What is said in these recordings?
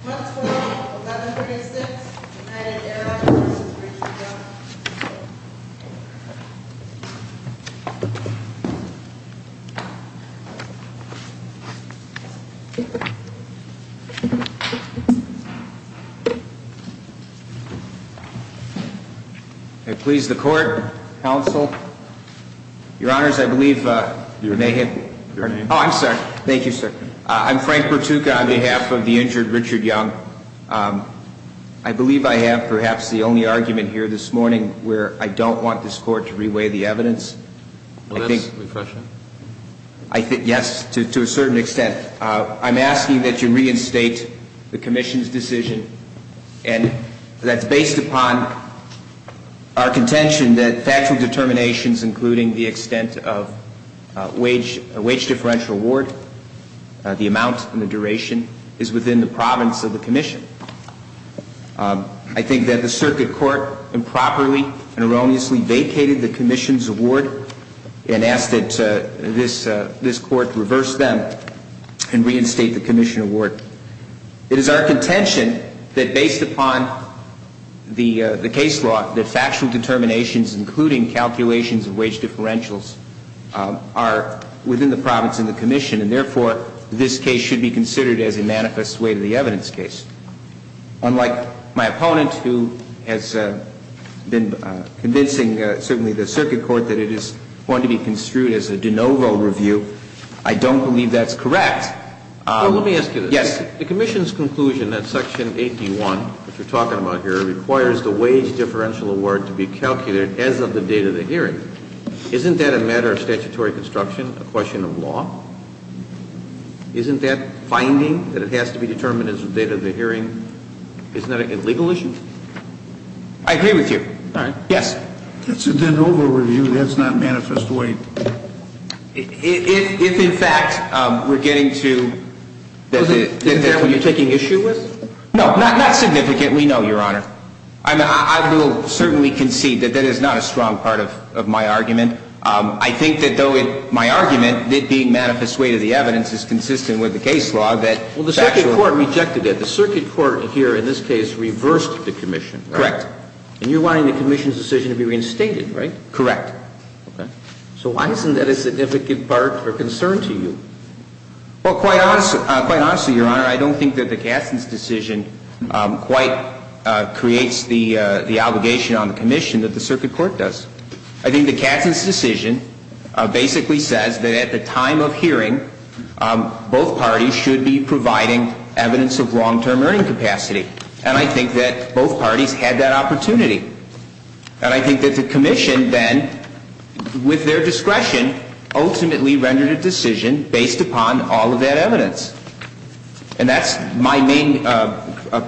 1136 United Airlines, Inc. v. Richard Young I please the court, counsel. Your Honors, I believe... Your name? Your name? Oh, I'm sorry. Thank you, sir. I'm Frank Bertuca on behalf of the injured Richard Young. I believe I have perhaps the only argument here this morning where I don't want this court to re-weigh the evidence. Well, that's refreshing. Yes, to a certain extent. I'm asking that you reinstate the Commission's decision, and that's based upon our contention that factual determinations, including the extent of wage differential award, the amount and the duration, is within the province of the Commission. I think that the Circuit Court improperly and erroneously vacated the Commission's award and asked that this court reverse them and reinstate the Commission award. It is our contention that, based upon the case law, that factual determinations, including calculations of wage differentials, are within the province and the Commission, and therefore, this case should be considered as a manifest way to the evidence case. Unlike my opponent, who has been convincing certainly the Circuit Court that it is going to be construed as a de novo review, I don't believe that's correct. Well, let me ask you this. Yes. The Commission's conclusion that Section 81, which we're talking about here, requires the wage differential award to be calculated as of the date of the hearing. Isn't that a matter of statutory construction, a question of law? Isn't that finding that it has to be determined as of the date of the hearing? Isn't that a legal issue? I agree with you. All right. Yes. It's a de novo review. That's not a manifest way. If, in fact, we're getting to... Is that what you're taking issue with? No, not significantly, no, Your Honor. I mean, I will certainly concede that that is not a strong part of my argument. I think that though my argument, it being a manifest way to the evidence, is consistent with the case law that... Well, the Circuit Court rejected it. The Circuit Court here in this case reversed the Commission. Correct. And you're wanting the Commission's decision to be reinstated, right? Correct. Okay. So why isn't that a significant part or concern to you? Well, quite honestly, Your Honor, I don't think that the Katzen's decision quite creates the obligation on the Commission that the Circuit Court does. I think the Katzen's decision basically says that at the time of hearing, both parties should be providing evidence of long-term earning capacity. And I think that both parties had that opportunity. And I think that the Commission then, with their discretion, ultimately rendered a decision based upon all of that evidence. And that's my main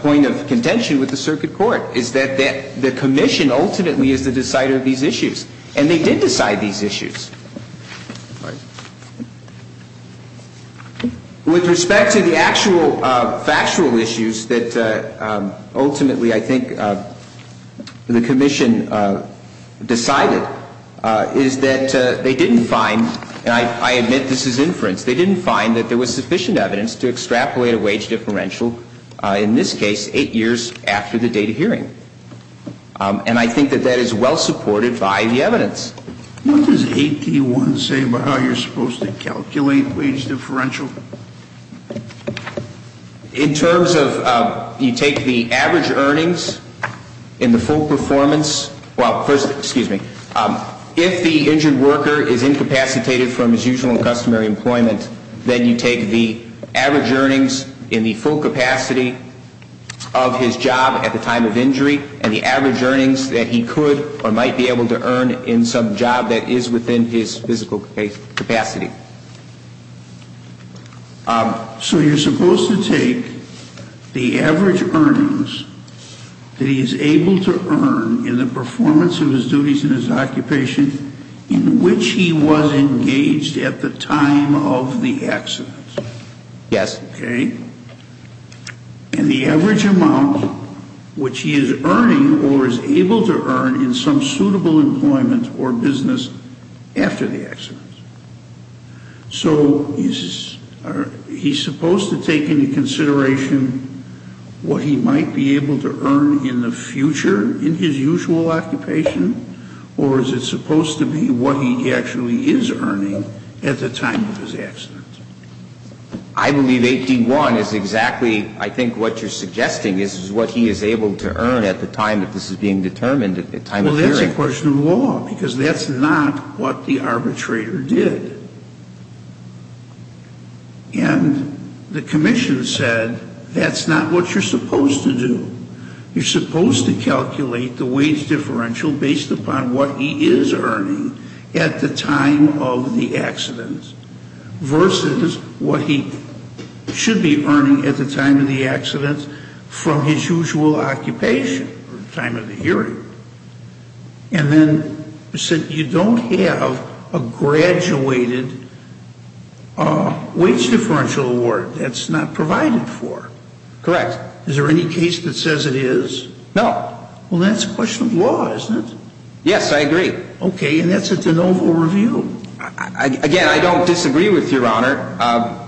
point of contention with the Circuit Court, is that the Commission ultimately is the decider of these issues. And they did decide these issues. With respect to the actual factual issues that ultimately, I think, the Commission decided, is that they didn't find, and I admit this is inference, they didn't find that there was sufficient evidence to extrapolate a wage differential, in this case, eight years after the date of hearing. And I think that that is well supported by the evidence. What does 8D1 say about how you're supposed to calculate wage differential? In terms of, you take the average earnings in the full performance, well, first, excuse me, if the injured worker is incapacitated from his usual and customary employment, then you take the average earnings in the full capacity of his job at the time of injury, and the average earnings that he could or might be able to earn in some job that is within his physical capacity. So you're supposed to take the average earnings that he is able to earn in the performance of his duties and his occupation in which he was engaged at the time of the accident. Yes. Okay. And the average amount which he is earning or is able to earn in some suitable employment or business after the accident. So is he supposed to take into consideration what he might be able to earn in the future in his usual occupation, or is it supposed to be what he actually is earning at the time of his accident? I believe 8D1 is exactly, I think, what you're suggesting is what he is able to earn at the time that this is being determined, at the time of injury. Well, that's a question of law, because that's not what the arbitrator did. And the commission said that's not what you're supposed to do. You're supposed to calculate the wage differential based upon what he is earning at the time of the accident versus what he should be earning at the time of the accident from his usual occupation or time of the hearing. And then said you don't have a graduated wage differential award. That's not provided for. Correct. Is there any case that says it is? No. Well, that's a question of law, isn't it? Yes, I agree. Okay. And that's a de novo review. Again, I don't disagree with Your Honor.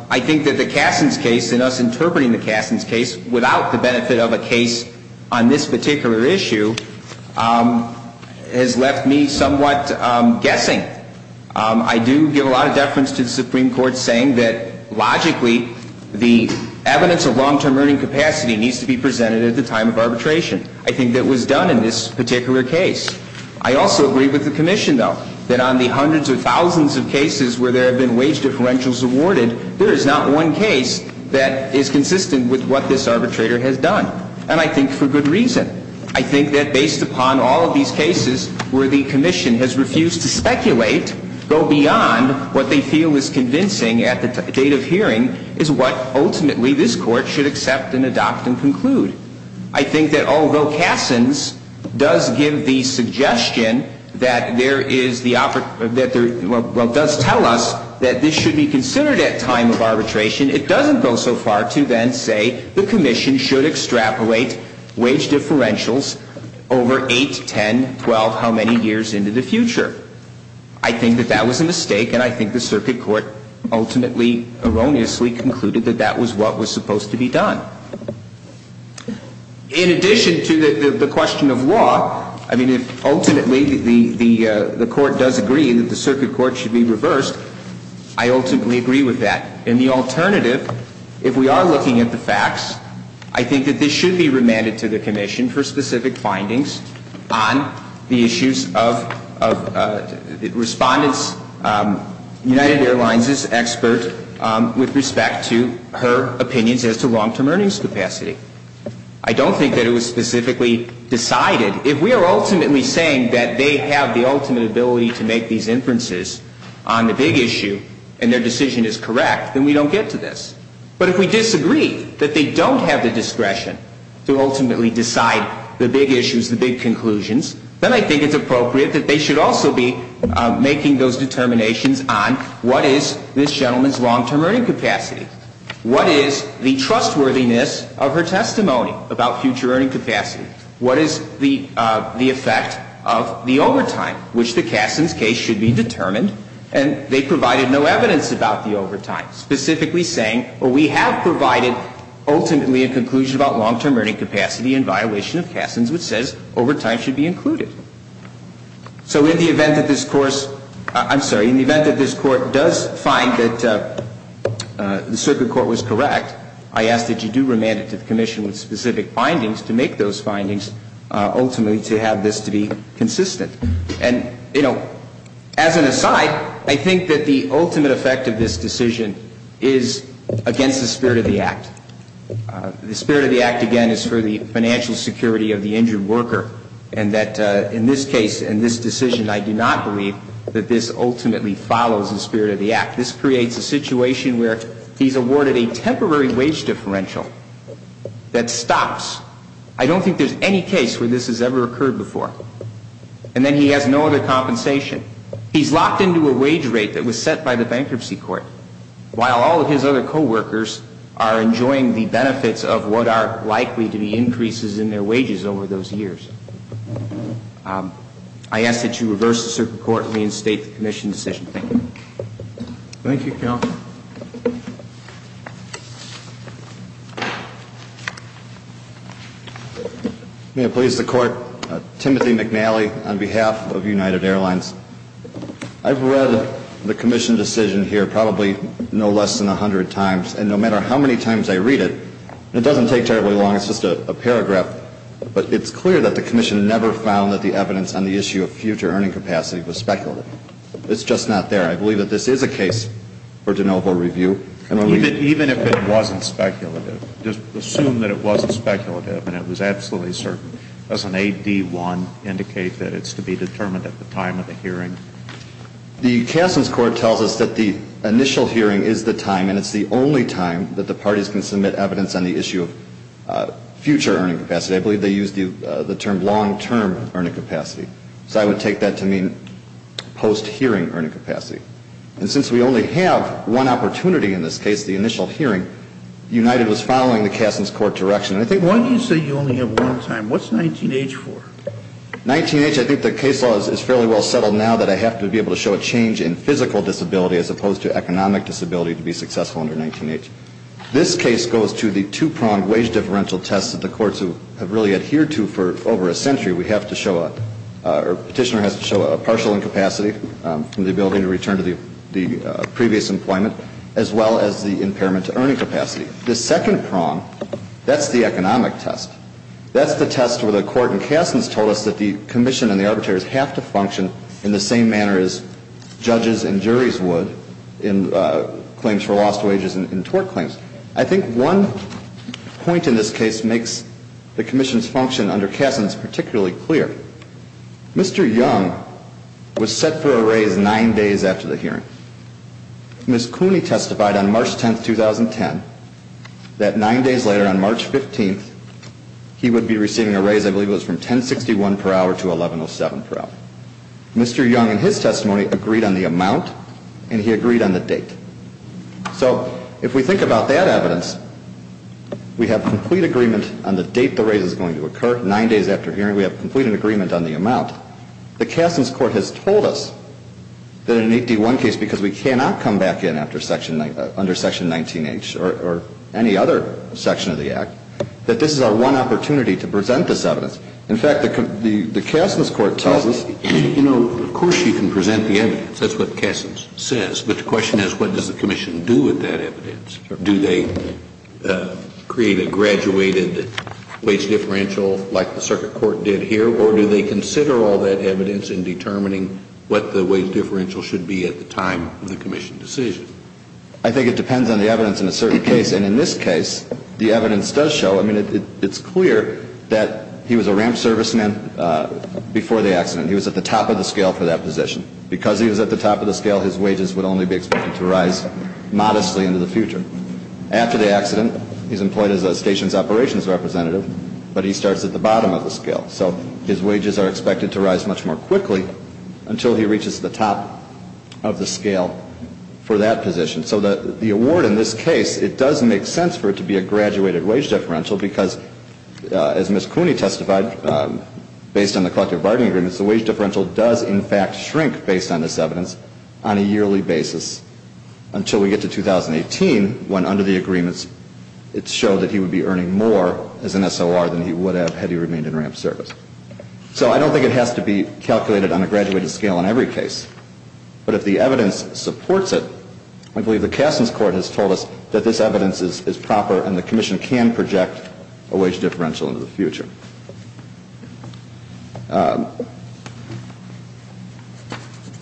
I think that the Kasson's case and us interpreting the Kasson's case without the benefit of a case on this particular issue has left me somewhat guessing. I do give a lot of deference to the Supreme Court saying that logically the evidence of long-term earning capacity needs to be presented at the time of arbitration. I think that was done in this particular case. I also agree with the commission, though, that on the hundreds of thousands of cases where there have been wage differentials awarded, there is not one case that is consistent with what this arbitrator has done. And I think for good reason. I think that based upon all of these cases where the commission has refused to speculate, go beyond what they feel is convincing at the date of hearing, I think that although Kasson's does tell us that this should be considered at time of arbitration, it doesn't go so far to then say the commission should extrapolate wage differentials over 8, 10, 12, how many years into the future. I think that that was a mistake, and I think the circuit court ultimately erroneously concluded that that was what was supposed to be done. In addition to the question of law, I mean, if ultimately the court does agree that the circuit court should be reversed, I ultimately agree with that. And the alternative, if we are looking at the facts, I think that this should be remanded to the commission for specific findings on the issues of respondents, United Airlines' expert with respect to her opinions as to long-term earnings capacity. I don't think that it was specifically decided. If we are ultimately saying that they have the ultimate ability to make these inferences on the big issue, and their decision is correct, then we don't get to this. But if we disagree that they don't have the discretion to ultimately decide the big issues, the big conclusions, then I think it's appropriate that they should also be making those determinations on what is this gentleman's long-term earning capacity, what is the trustworthiness of her testimony about future earning capacity, what is the effect of the overtime, which the Kassens case should be determined, and they provided no evidence about the overtime, specifically saying we have provided ultimately a conclusion about long-term earning capacity in violation of Kassens, which says overtime should be included. So in the event that this Court does find that the circuit court was correct, I ask that you do remand it to the commission with specific findings to make those findings, ultimately to have this to be consistent. And, you know, as an aside, I think that the ultimate effect of this decision is against the spirit of the Act. The spirit of the Act, again, is for the financial security of the injured worker, and that in this case, in this decision, I do not believe that this ultimately follows the spirit of the Act. This creates a situation where he's awarded a temporary wage differential that stops. I don't think there's any case where this has ever occurred before. And then he has no other compensation. He's locked into a wage rate that was set by the bankruptcy court, while all of his other co-workers are enjoying the benefits of what are likely to be increases in their wages over those years. I ask that you reverse the circuit court and reinstate the commission's decision. Thank you. Thank you, Counsel. May it please the Court, Timothy McNally on behalf of United Airlines. I've read the commission decision here probably no less than 100 times, and no matter how many times I read it, and it doesn't take terribly long, it's just a paragraph, but it's clear that the commission never found that the evidence on the issue of future earning capacity was speculative. It's just not there. I believe that this is a case for de novo review. Even if it wasn't speculative, just assume that it wasn't speculative and it was absolutely certain. Doesn't AD1 indicate that it's to be determined at the time of the hearing? The Kasson's court tells us that the initial hearing is the time, and it's the only time that the parties can submit evidence on the issue of future earning capacity. I believe they used the term long-term earning capacity, so I would take that to mean post-hearing earning capacity. And since we only have one opportunity in this case, the initial hearing, United was following the Kasson's court direction. Why do you say you only have one time? What's 19-H for? 19-H, I think the case law is fairly well settled now that I have to be able to show a change in physical disability as opposed to economic disability to be successful under 19-H. This case goes to the two-pronged wage differential test that the courts have really adhered to for over a century. We have to show, or Petitioner has to show, a partial incapacity, the ability to return to the previous employment, as well as the impairment to earning capacity. The second prong, that's the economic test. That's the test where the court in Kasson's told us that the Commission and the arbitrators have to function in the same manner as judges and juries would in claims for lost wages and tort claims. I think one point in this case makes the Commission's function under Kasson's particularly clear. Mr. Young was set for a raise nine days after the hearing. Ms. Cooney testified on March 10, 2010, that nine days later, on March 15, he would be receiving a raise, I believe it was from $10.61 per hour to $11.07 per hour. Mr. Young, in his testimony, agreed on the amount and he agreed on the date. So if we think about that evidence, we have complete agreement on the date the raise is going to occur, nine days after hearing, we have complete agreement on the amount. The Kasson's court has told us that in an 8D1 case, because we cannot come back in under Section 19H or any other section of the Act, that this is our one opportunity to present this evidence. In fact, the Kasson's court tells us of course you can present the evidence. That's what Kasson's says. But the question is what does the Commission do with that evidence? Do they create a graduated wage differential like the circuit court did here, or do they consider all that evidence in determining what the wage differential should be at the time of the Commission decision? I think it depends on the evidence in a certain case. And in this case, the evidence does show, I mean, it's clear that he was a ramp serviceman before the accident. He was at the top of the scale for that position. Because he was at the top of the scale, his wages would only be expected to rise modestly into the future. After the accident, he's employed as a station's operations representative, but he starts at the bottom of the scale. So his wages are expected to rise much more quickly until he reaches the top of the scale for that position. So the award in this case, it does make sense for it to be a graduated wage differential because as Ms. Cooney testified, based on the collective bargaining agreements, the wage differential does in fact shrink based on this evidence on a yearly basis until we get to 2018 when under the agreements, it showed that he would be earning more as an SOR than he would have had he remained in ramp service. So I don't think it has to be calculated on a graduated scale in every case. But if the evidence supports it, I believe the Kasson's court has told us that this evidence is proper and the Commission can project a wage differential into the future.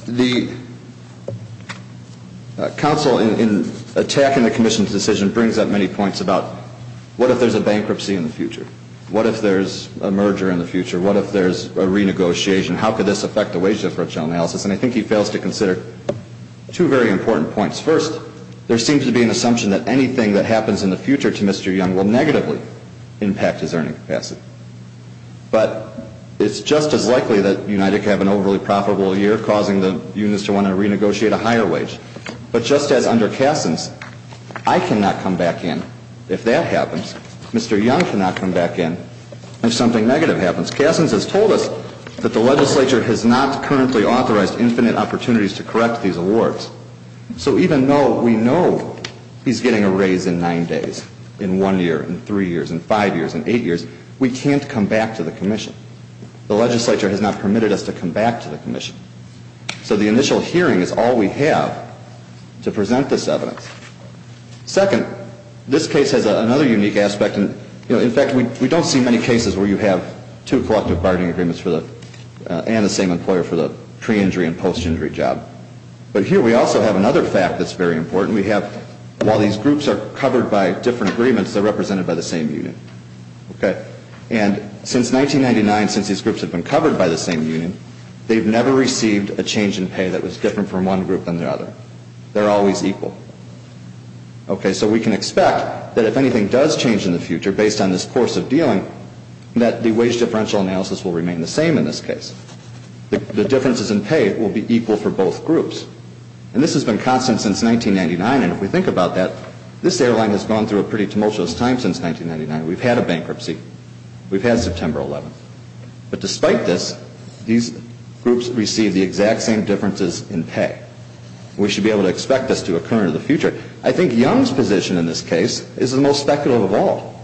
The counsel in attacking the Commission's decision brings up many points about what if there's a bankruptcy in the future? What if there's a merger in the future? What if there's a renegotiation? How could this affect the wage differential analysis? And I think he fails to consider two very important points. First, there seems to be an assumption that anything that happens in the future to Mr. Young will negatively impact his earning capacity. But it's just as likely that United would have an overly profitable year causing the unions to want to renegotiate a higher wage. But just as under Kasson's, I cannot come back in if that happens, Mr. Young cannot come back in if something negative happens. Kasson's has told us that the legislature has not currently authorized infinite opportunities to correct these awards. So even though we know he's getting a raise in nine days, in one year, in three years, in five years, in eight years, we can't come back to the Commission. The legislature has not permitted us to come back to the Commission. So the initial hearing is all we have to present this evidence. Second, this case has another unique aspect. In fact, we don't see many cases where you have two collective bargaining agreements and the same employer for the pre-injury and post-injury job. But here we also have another fact that's very important. While these groups are covered by different agreements, they're represented by the same union. And since 1999, since these groups have been covered by the same union, they've never received a change in pay that was different from one group than the other. They're always equal. So we can expect that if anything does change in the future based on this course of dealing, that the wage differential analysis will remain the same in this case. The differences in pay will be equal for both groups. And this has been constant since 1999. And if we think about that, this airline has gone through a pretty tumultuous time since 1999. We've had a bankruptcy. We've had September 11th. But despite this, these groups receive the exact same differences in pay. We should be able to expect this to occur in the future. I think Young's position in this case is the most speculative of all.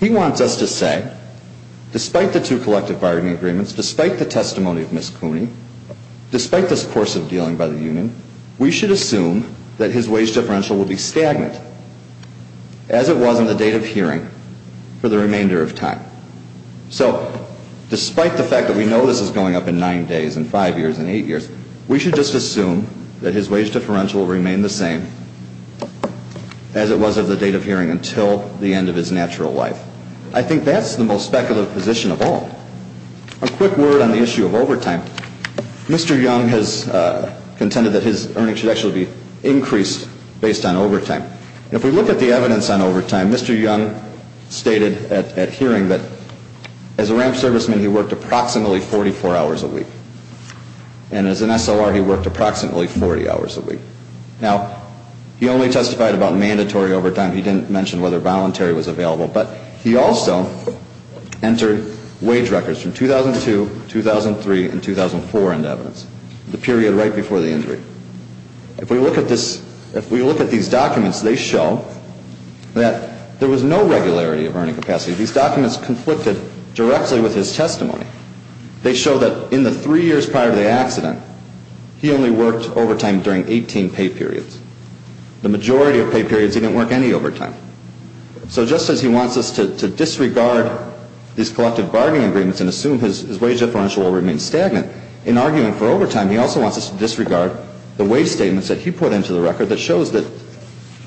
He wants us to say, despite the two collective bargaining agreements, despite the testimony of Ms. Cooney, despite this course of dealing by the union, we should assume that his wage differential will be stagnant, as it was in the date of hearing, for the remainder of time. So despite the fact that we know this is going up in nine days and five years and eight years, we should just assume that his wage differential will remain the same as it was of the date of hearing until the end of his natural life. I think that's the most speculative position of all. A quick word on the issue of overtime. Mr. Young has contended that his earnings should actually be increased based on overtime. And if we look at the evidence on overtime, Mr. Young stated at hearing that as a ramp serviceman, he worked approximately 44 hours a week. And as an SOR, he worked approximately 40 hours a week. Now, he only testified about mandatory overtime. He didn't mention whether voluntary was available. But he also entered wage records from 2002, 2003, and 2004 into evidence, the period right before the injury. If we look at these documents, they show that there was no regularity of earning capacity. These documents conflicted directly with his testimony. They show that in the three years prior to the accident, he only worked overtime during 18 pay periods. The majority of pay periods, he didn't work any overtime. So just as he wants us to disregard these collective bargaining agreements and assume his wage differential will remain stagnant in arguing for overtime, he also wants us to disregard the wage statements that he put into the record that shows that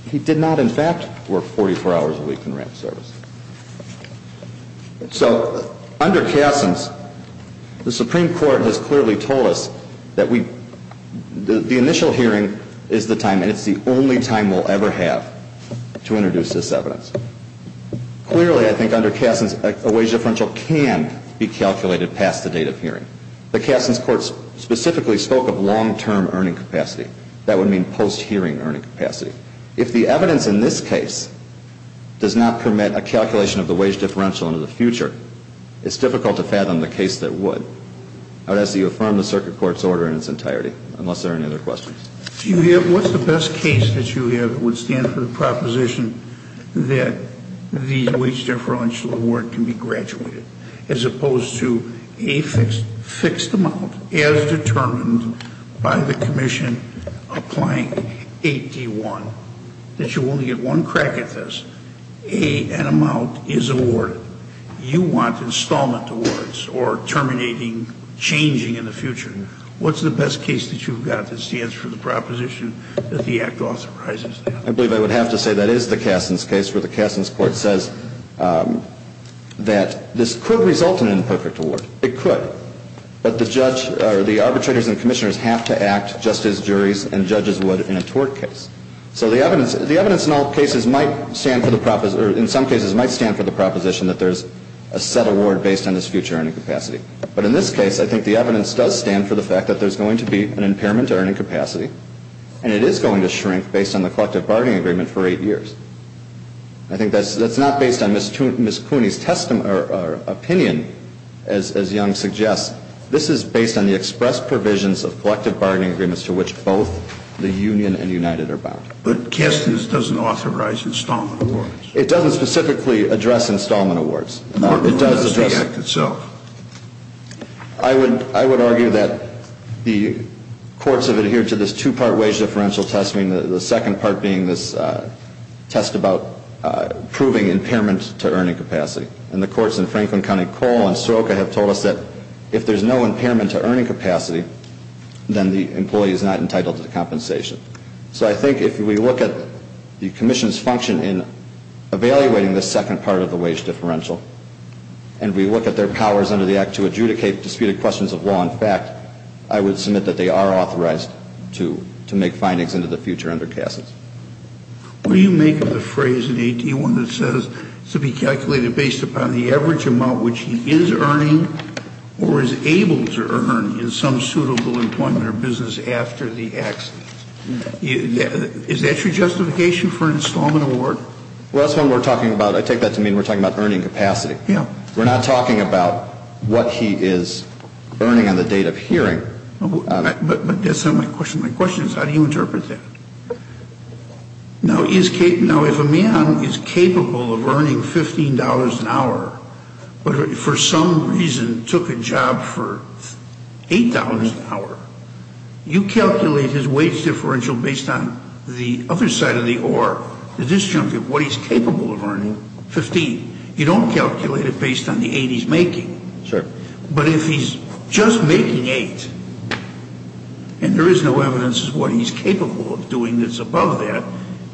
he did not, in fact, work 44 hours a week in ramp service. So under Cassin's, the Supreme Court has clearly told us that the initial hearing is the time, and it's the only time we'll ever have to introduce this evidence. Clearly, I think under Cassin's, a wage differential can be calculated past the date of hearing. The Cassin's Court specifically spoke of long-term earning capacity. That would mean post-hearing earning capacity. If the evidence in this case does not permit a calculation of the wage differential into the future, it's difficult to fathom the case that would. I would ask that you affirm the circuit court's order in its entirety, unless there are any other questions. What's the best case that you have that would stand for the proposition that the wage differential award can be graduated, as opposed to a fixed amount as determined by the commission applying 8D1, that you only get one crack at this, an amount is awarded. You want installment awards or terminating changing in the future. What's the best case that you've got that stands for the proposition that the Act authorizes that? I believe I would have to say that is the Cassin's case, where the Cassin's Court says that this could result in an imperfect award. It could. But the arbitrators and commissioners have to act just as juries and judges would in a tort case. So the evidence in some cases might stand for the proposition that there's a set award based on this future earning capacity. But in this case, I think the evidence does stand for the fact that there's going to be an impairment to earning capacity, and it is going to shrink based on the collective bargaining agreement for eight years. I think that's not based on Ms. Cooney's opinion, as Young suggests. This is based on the express provisions of collective bargaining agreements to which both the union and United are bound. But Cassin's doesn't authorize installment awards. It doesn't specifically address installment awards. It does address the Act itself. I would argue that the courts have adhered to this two-part wage differential test, the second part being this test about proving impairment to earning capacity. And the courts in Franklin County Coal and Sroka have told us that if there's no impairment to earning capacity, then the employee is not entitled to the compensation. So I think if we look at the commission's function in evaluating the second part of the wage differential, and we look at their powers under the Act to adjudicate disputed questions of law and fact, I would submit that they are authorized to make findings into the future under Cassin's. What do you make of the phrase in 18-1 that says to be calculated based upon the average amount which he is earning or is able to earn in some suitable employment or business after the accident? Is that your justification for an installment award? Well, that's what we're talking about. I take that to mean we're talking about earning capacity. We're not talking about what he is earning on the date of hearing. But that's not my question. My question is how do you interpret that? Now, if a man is capable of earning $15 an hour, but for some reason took a job for $8 an hour, the disjunct of what he's capable of earning, $15, you don't calculate it based on the $8 he's making. Sure. But if he's just making $8, and there is no evidence as to what he's capable of doing that's above that,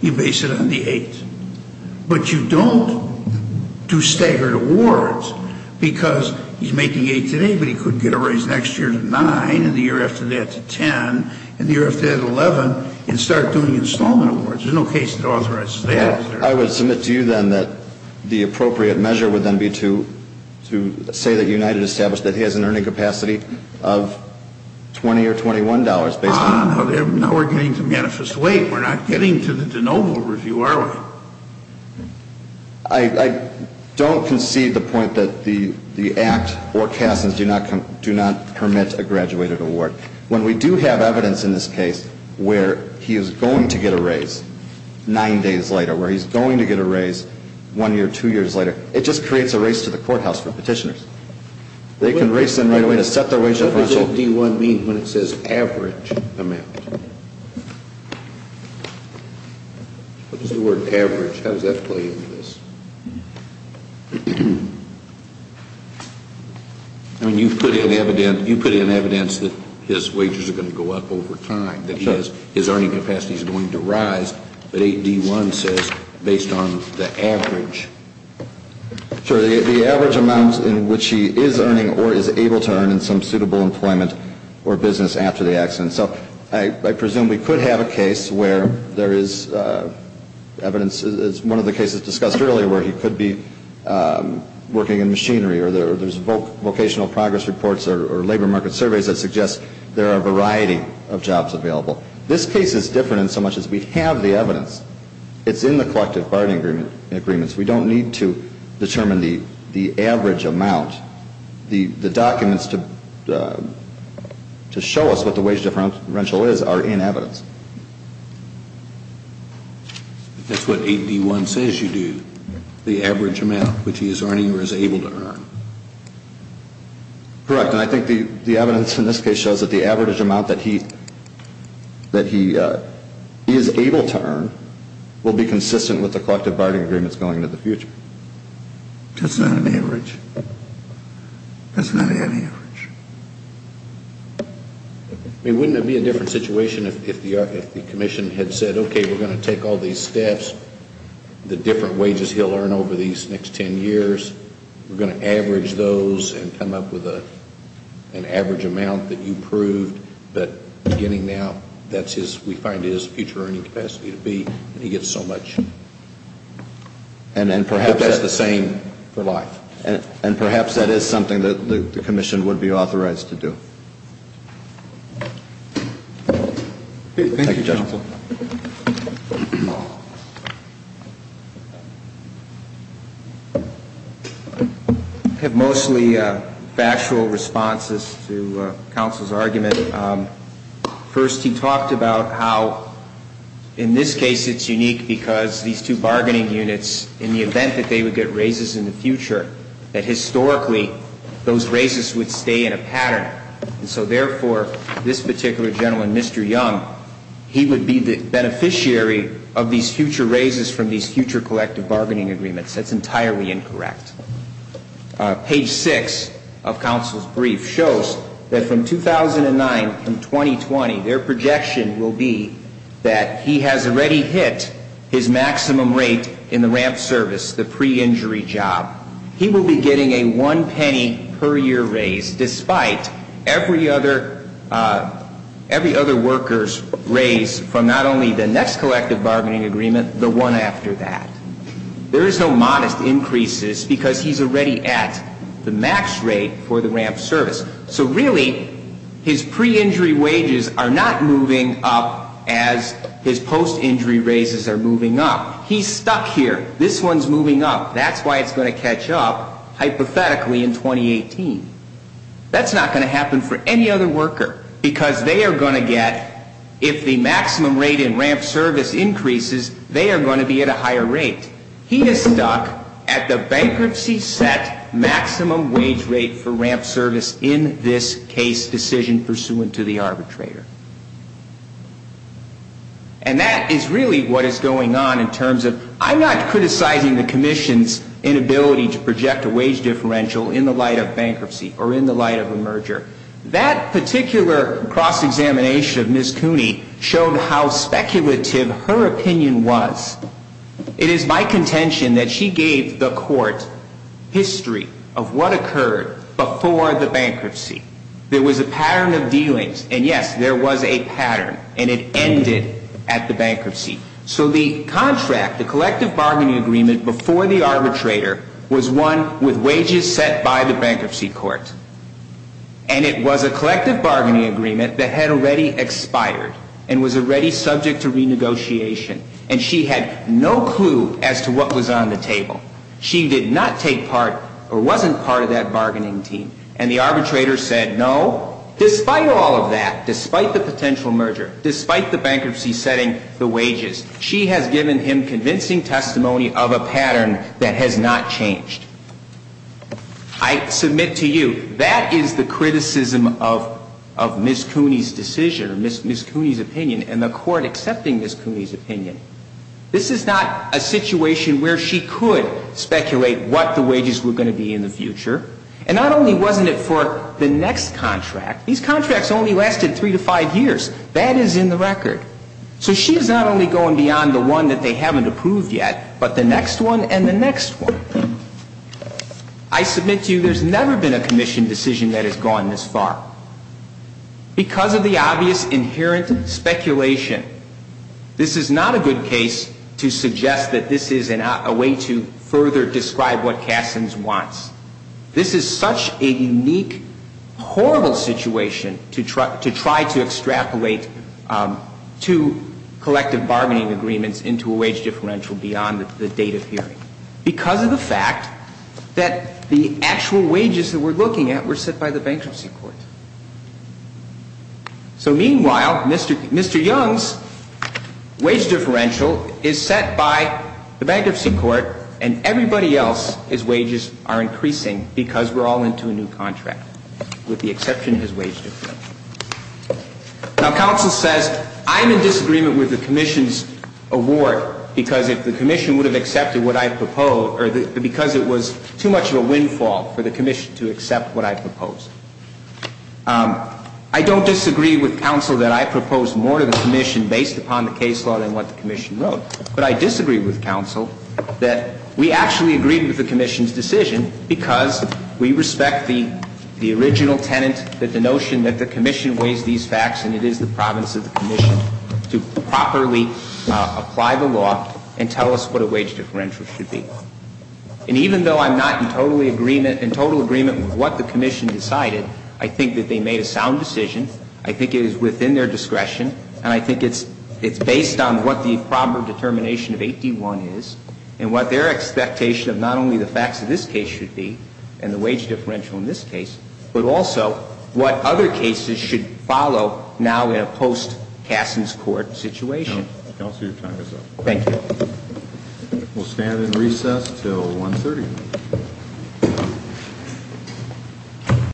you base it on the $8. But you don't do staggered awards because he's making $8 today, but he could get a raise next year to $9, and the year after that to $10, and the year after that $11, and start doing installment awards. There's no case to authorize that. I would submit to you then that the appropriate measure would then be to say that United established that he has an earning capacity of $20 or $21. Now we're getting to manifest weight. We're not getting to the de novo review, are we? I don't concede the point that the Act or CASAs do not permit a graduated award. When we do have evidence in this case where he is going to get a raise nine days later, where he's going to get a raise one year, two years later, it just creates a race to the courthouse for petitioners. They can race in right away to set their wage threshold. What does that D1 mean when it says average amount? What is the word average? How does that play into this? I mean, you've put in evidence that his wages are going to go up over time, that his earning capacity is going to rise, but 8D1 says based on the average. Sure. The average amount in which he is earning or is able to earn in some suitable employment or business after the accident. So I presume we could have a case where there is evidence. It's one of the cases discussed earlier where he could be working in machinery or there's vocational progress reports or labor market surveys that suggest there are a variety of jobs available. This case is different in so much as we have the evidence. It's in the collective bargaining agreements. We don't need to determine the average amount. The documents to show us what the wage differential is are in evidence. That's what 8D1 says you do, the average amount which he is earning or is able to earn. Correct. And I think the evidence in this case shows that the average amount that he is able to earn will be consistent with the collective bargaining agreements going into the future. That's not an average. That's not any average. I mean, wouldn't it be a different situation if the commission had said, okay, we're going to take all these steps, the different wages he'll earn over these next 10 years, we're going to average those and come up with an average amount that you proved, but beginning now, that's his, we find his future earning capacity to be, and he gets so much. And perhaps that's the same for life. And perhaps that is something that the commission would be authorized to do. Thank you, counsel. I have mostly factual responses to counsel's argument. First, he talked about how in this case it's unique because these two bargaining units, in the event that they would get raises in the future, that historically those raises would stay in a pattern. And so, therefore, this particular gentleman, Mr. Young, he would be the beneficiary of these future raises from these future collective bargaining agreements. That's entirely incorrect. Page 6 of counsel's brief shows that from 2009 to 2020, their projection will be that he has already hit his maximum rate in the RAMP service, the pre-injury job. He will be getting a one penny per year raise despite every other worker's raise from not only the next collective bargaining agreement, the one after that. There is no modest increases because he's already at the max rate for the RAMP service. So really, his pre-injury wages are not moving up as his post-injury raises are moving up. He's stuck here. This one's moving up. That's why it's going to catch up, hypothetically, in 2018. That's not going to happen for any other worker because they are going to get, if the maximum rate in RAMP service increases, they are going to be at a higher rate. He is stuck at the bankruptcy set maximum wage rate for RAMP service in this case decision pursuant to the arbitrator. And that is really what is going on in terms of, I'm not criticizing the commission's inability to project a wage differential in the light of bankruptcy or in the light of a merger. That particular cross-examination of Ms. Cooney showed how speculative her opinion was. It is my contention that she gave the court history of what occurred before the bankruptcy. There was a pattern of dealings, and yes, there was a pattern, and it ended at the bankruptcy. So the contract, the collective bargaining agreement before the arbitrator, was one with wages set by the bankruptcy court. And it was a collective bargaining agreement that had already expired and was already subject to renegotiation. And she had no clue as to what was on the table. She did not take part or wasn't part of that bargaining team. And the arbitrator said, no, despite all of that, despite the potential merger, despite the bankruptcy setting the wages, she has given him convincing testimony of a pattern that has not changed. I submit to you, that is the criticism of Ms. Cooney's decision or Ms. Cooney's opinion. And the court accepting Ms. Cooney's opinion, this is not a situation where she could speculate what the wages were going to be in the future. And not only wasn't it for the next contract, these contracts only lasted three to five years. That is in the record. So she is not only going beyond the one that they haven't approved yet, but the next one and the next one. I submit to you, there's never been a commission decision that has gone this far. Because of the obvious inherent speculation, this is not a good case to suggest that this is a way to further describe what Cassin's wants. This is such a unique, horrible situation to try to extrapolate two collective bargaining agreements into a wage differential beyond the date of hearing. Because of the fact that the actual wages that we're looking at were set by the bankruptcy court. So meanwhile, Mr. Young's wage differential is set by the bankruptcy court, and everybody else's wages are increasing because we're all into a new contract, with the exception of his wage differential. Now, counsel says, I'm in disagreement with the commission's award, because if the commission would have accepted what I proposed, or because it was too much of a windfall for the commission to accept what I proposed. I don't disagree with counsel that I proposed more to the commission based upon the case law than what the commission wrote. But I disagree with counsel that we actually agreed with the commission's decision, because we respect the original tenet, that the notion that the commission weighs these facts, and it is the province of the commission to properly apply the law and tell us what a wage differential should be. And even though I'm not in total agreement with what the commission decided, I think that they made a sound decision. I think it is within their discretion, and I think it's based on what the proper determination of 8D1 is, and what their expectation of not only the facts of this case should be, and the wage differential in this case, but also what other cases should follow now in a post-Cassin's Court situation. Counsel, your time is up. Thank you. We'll stand in recess until 1.30.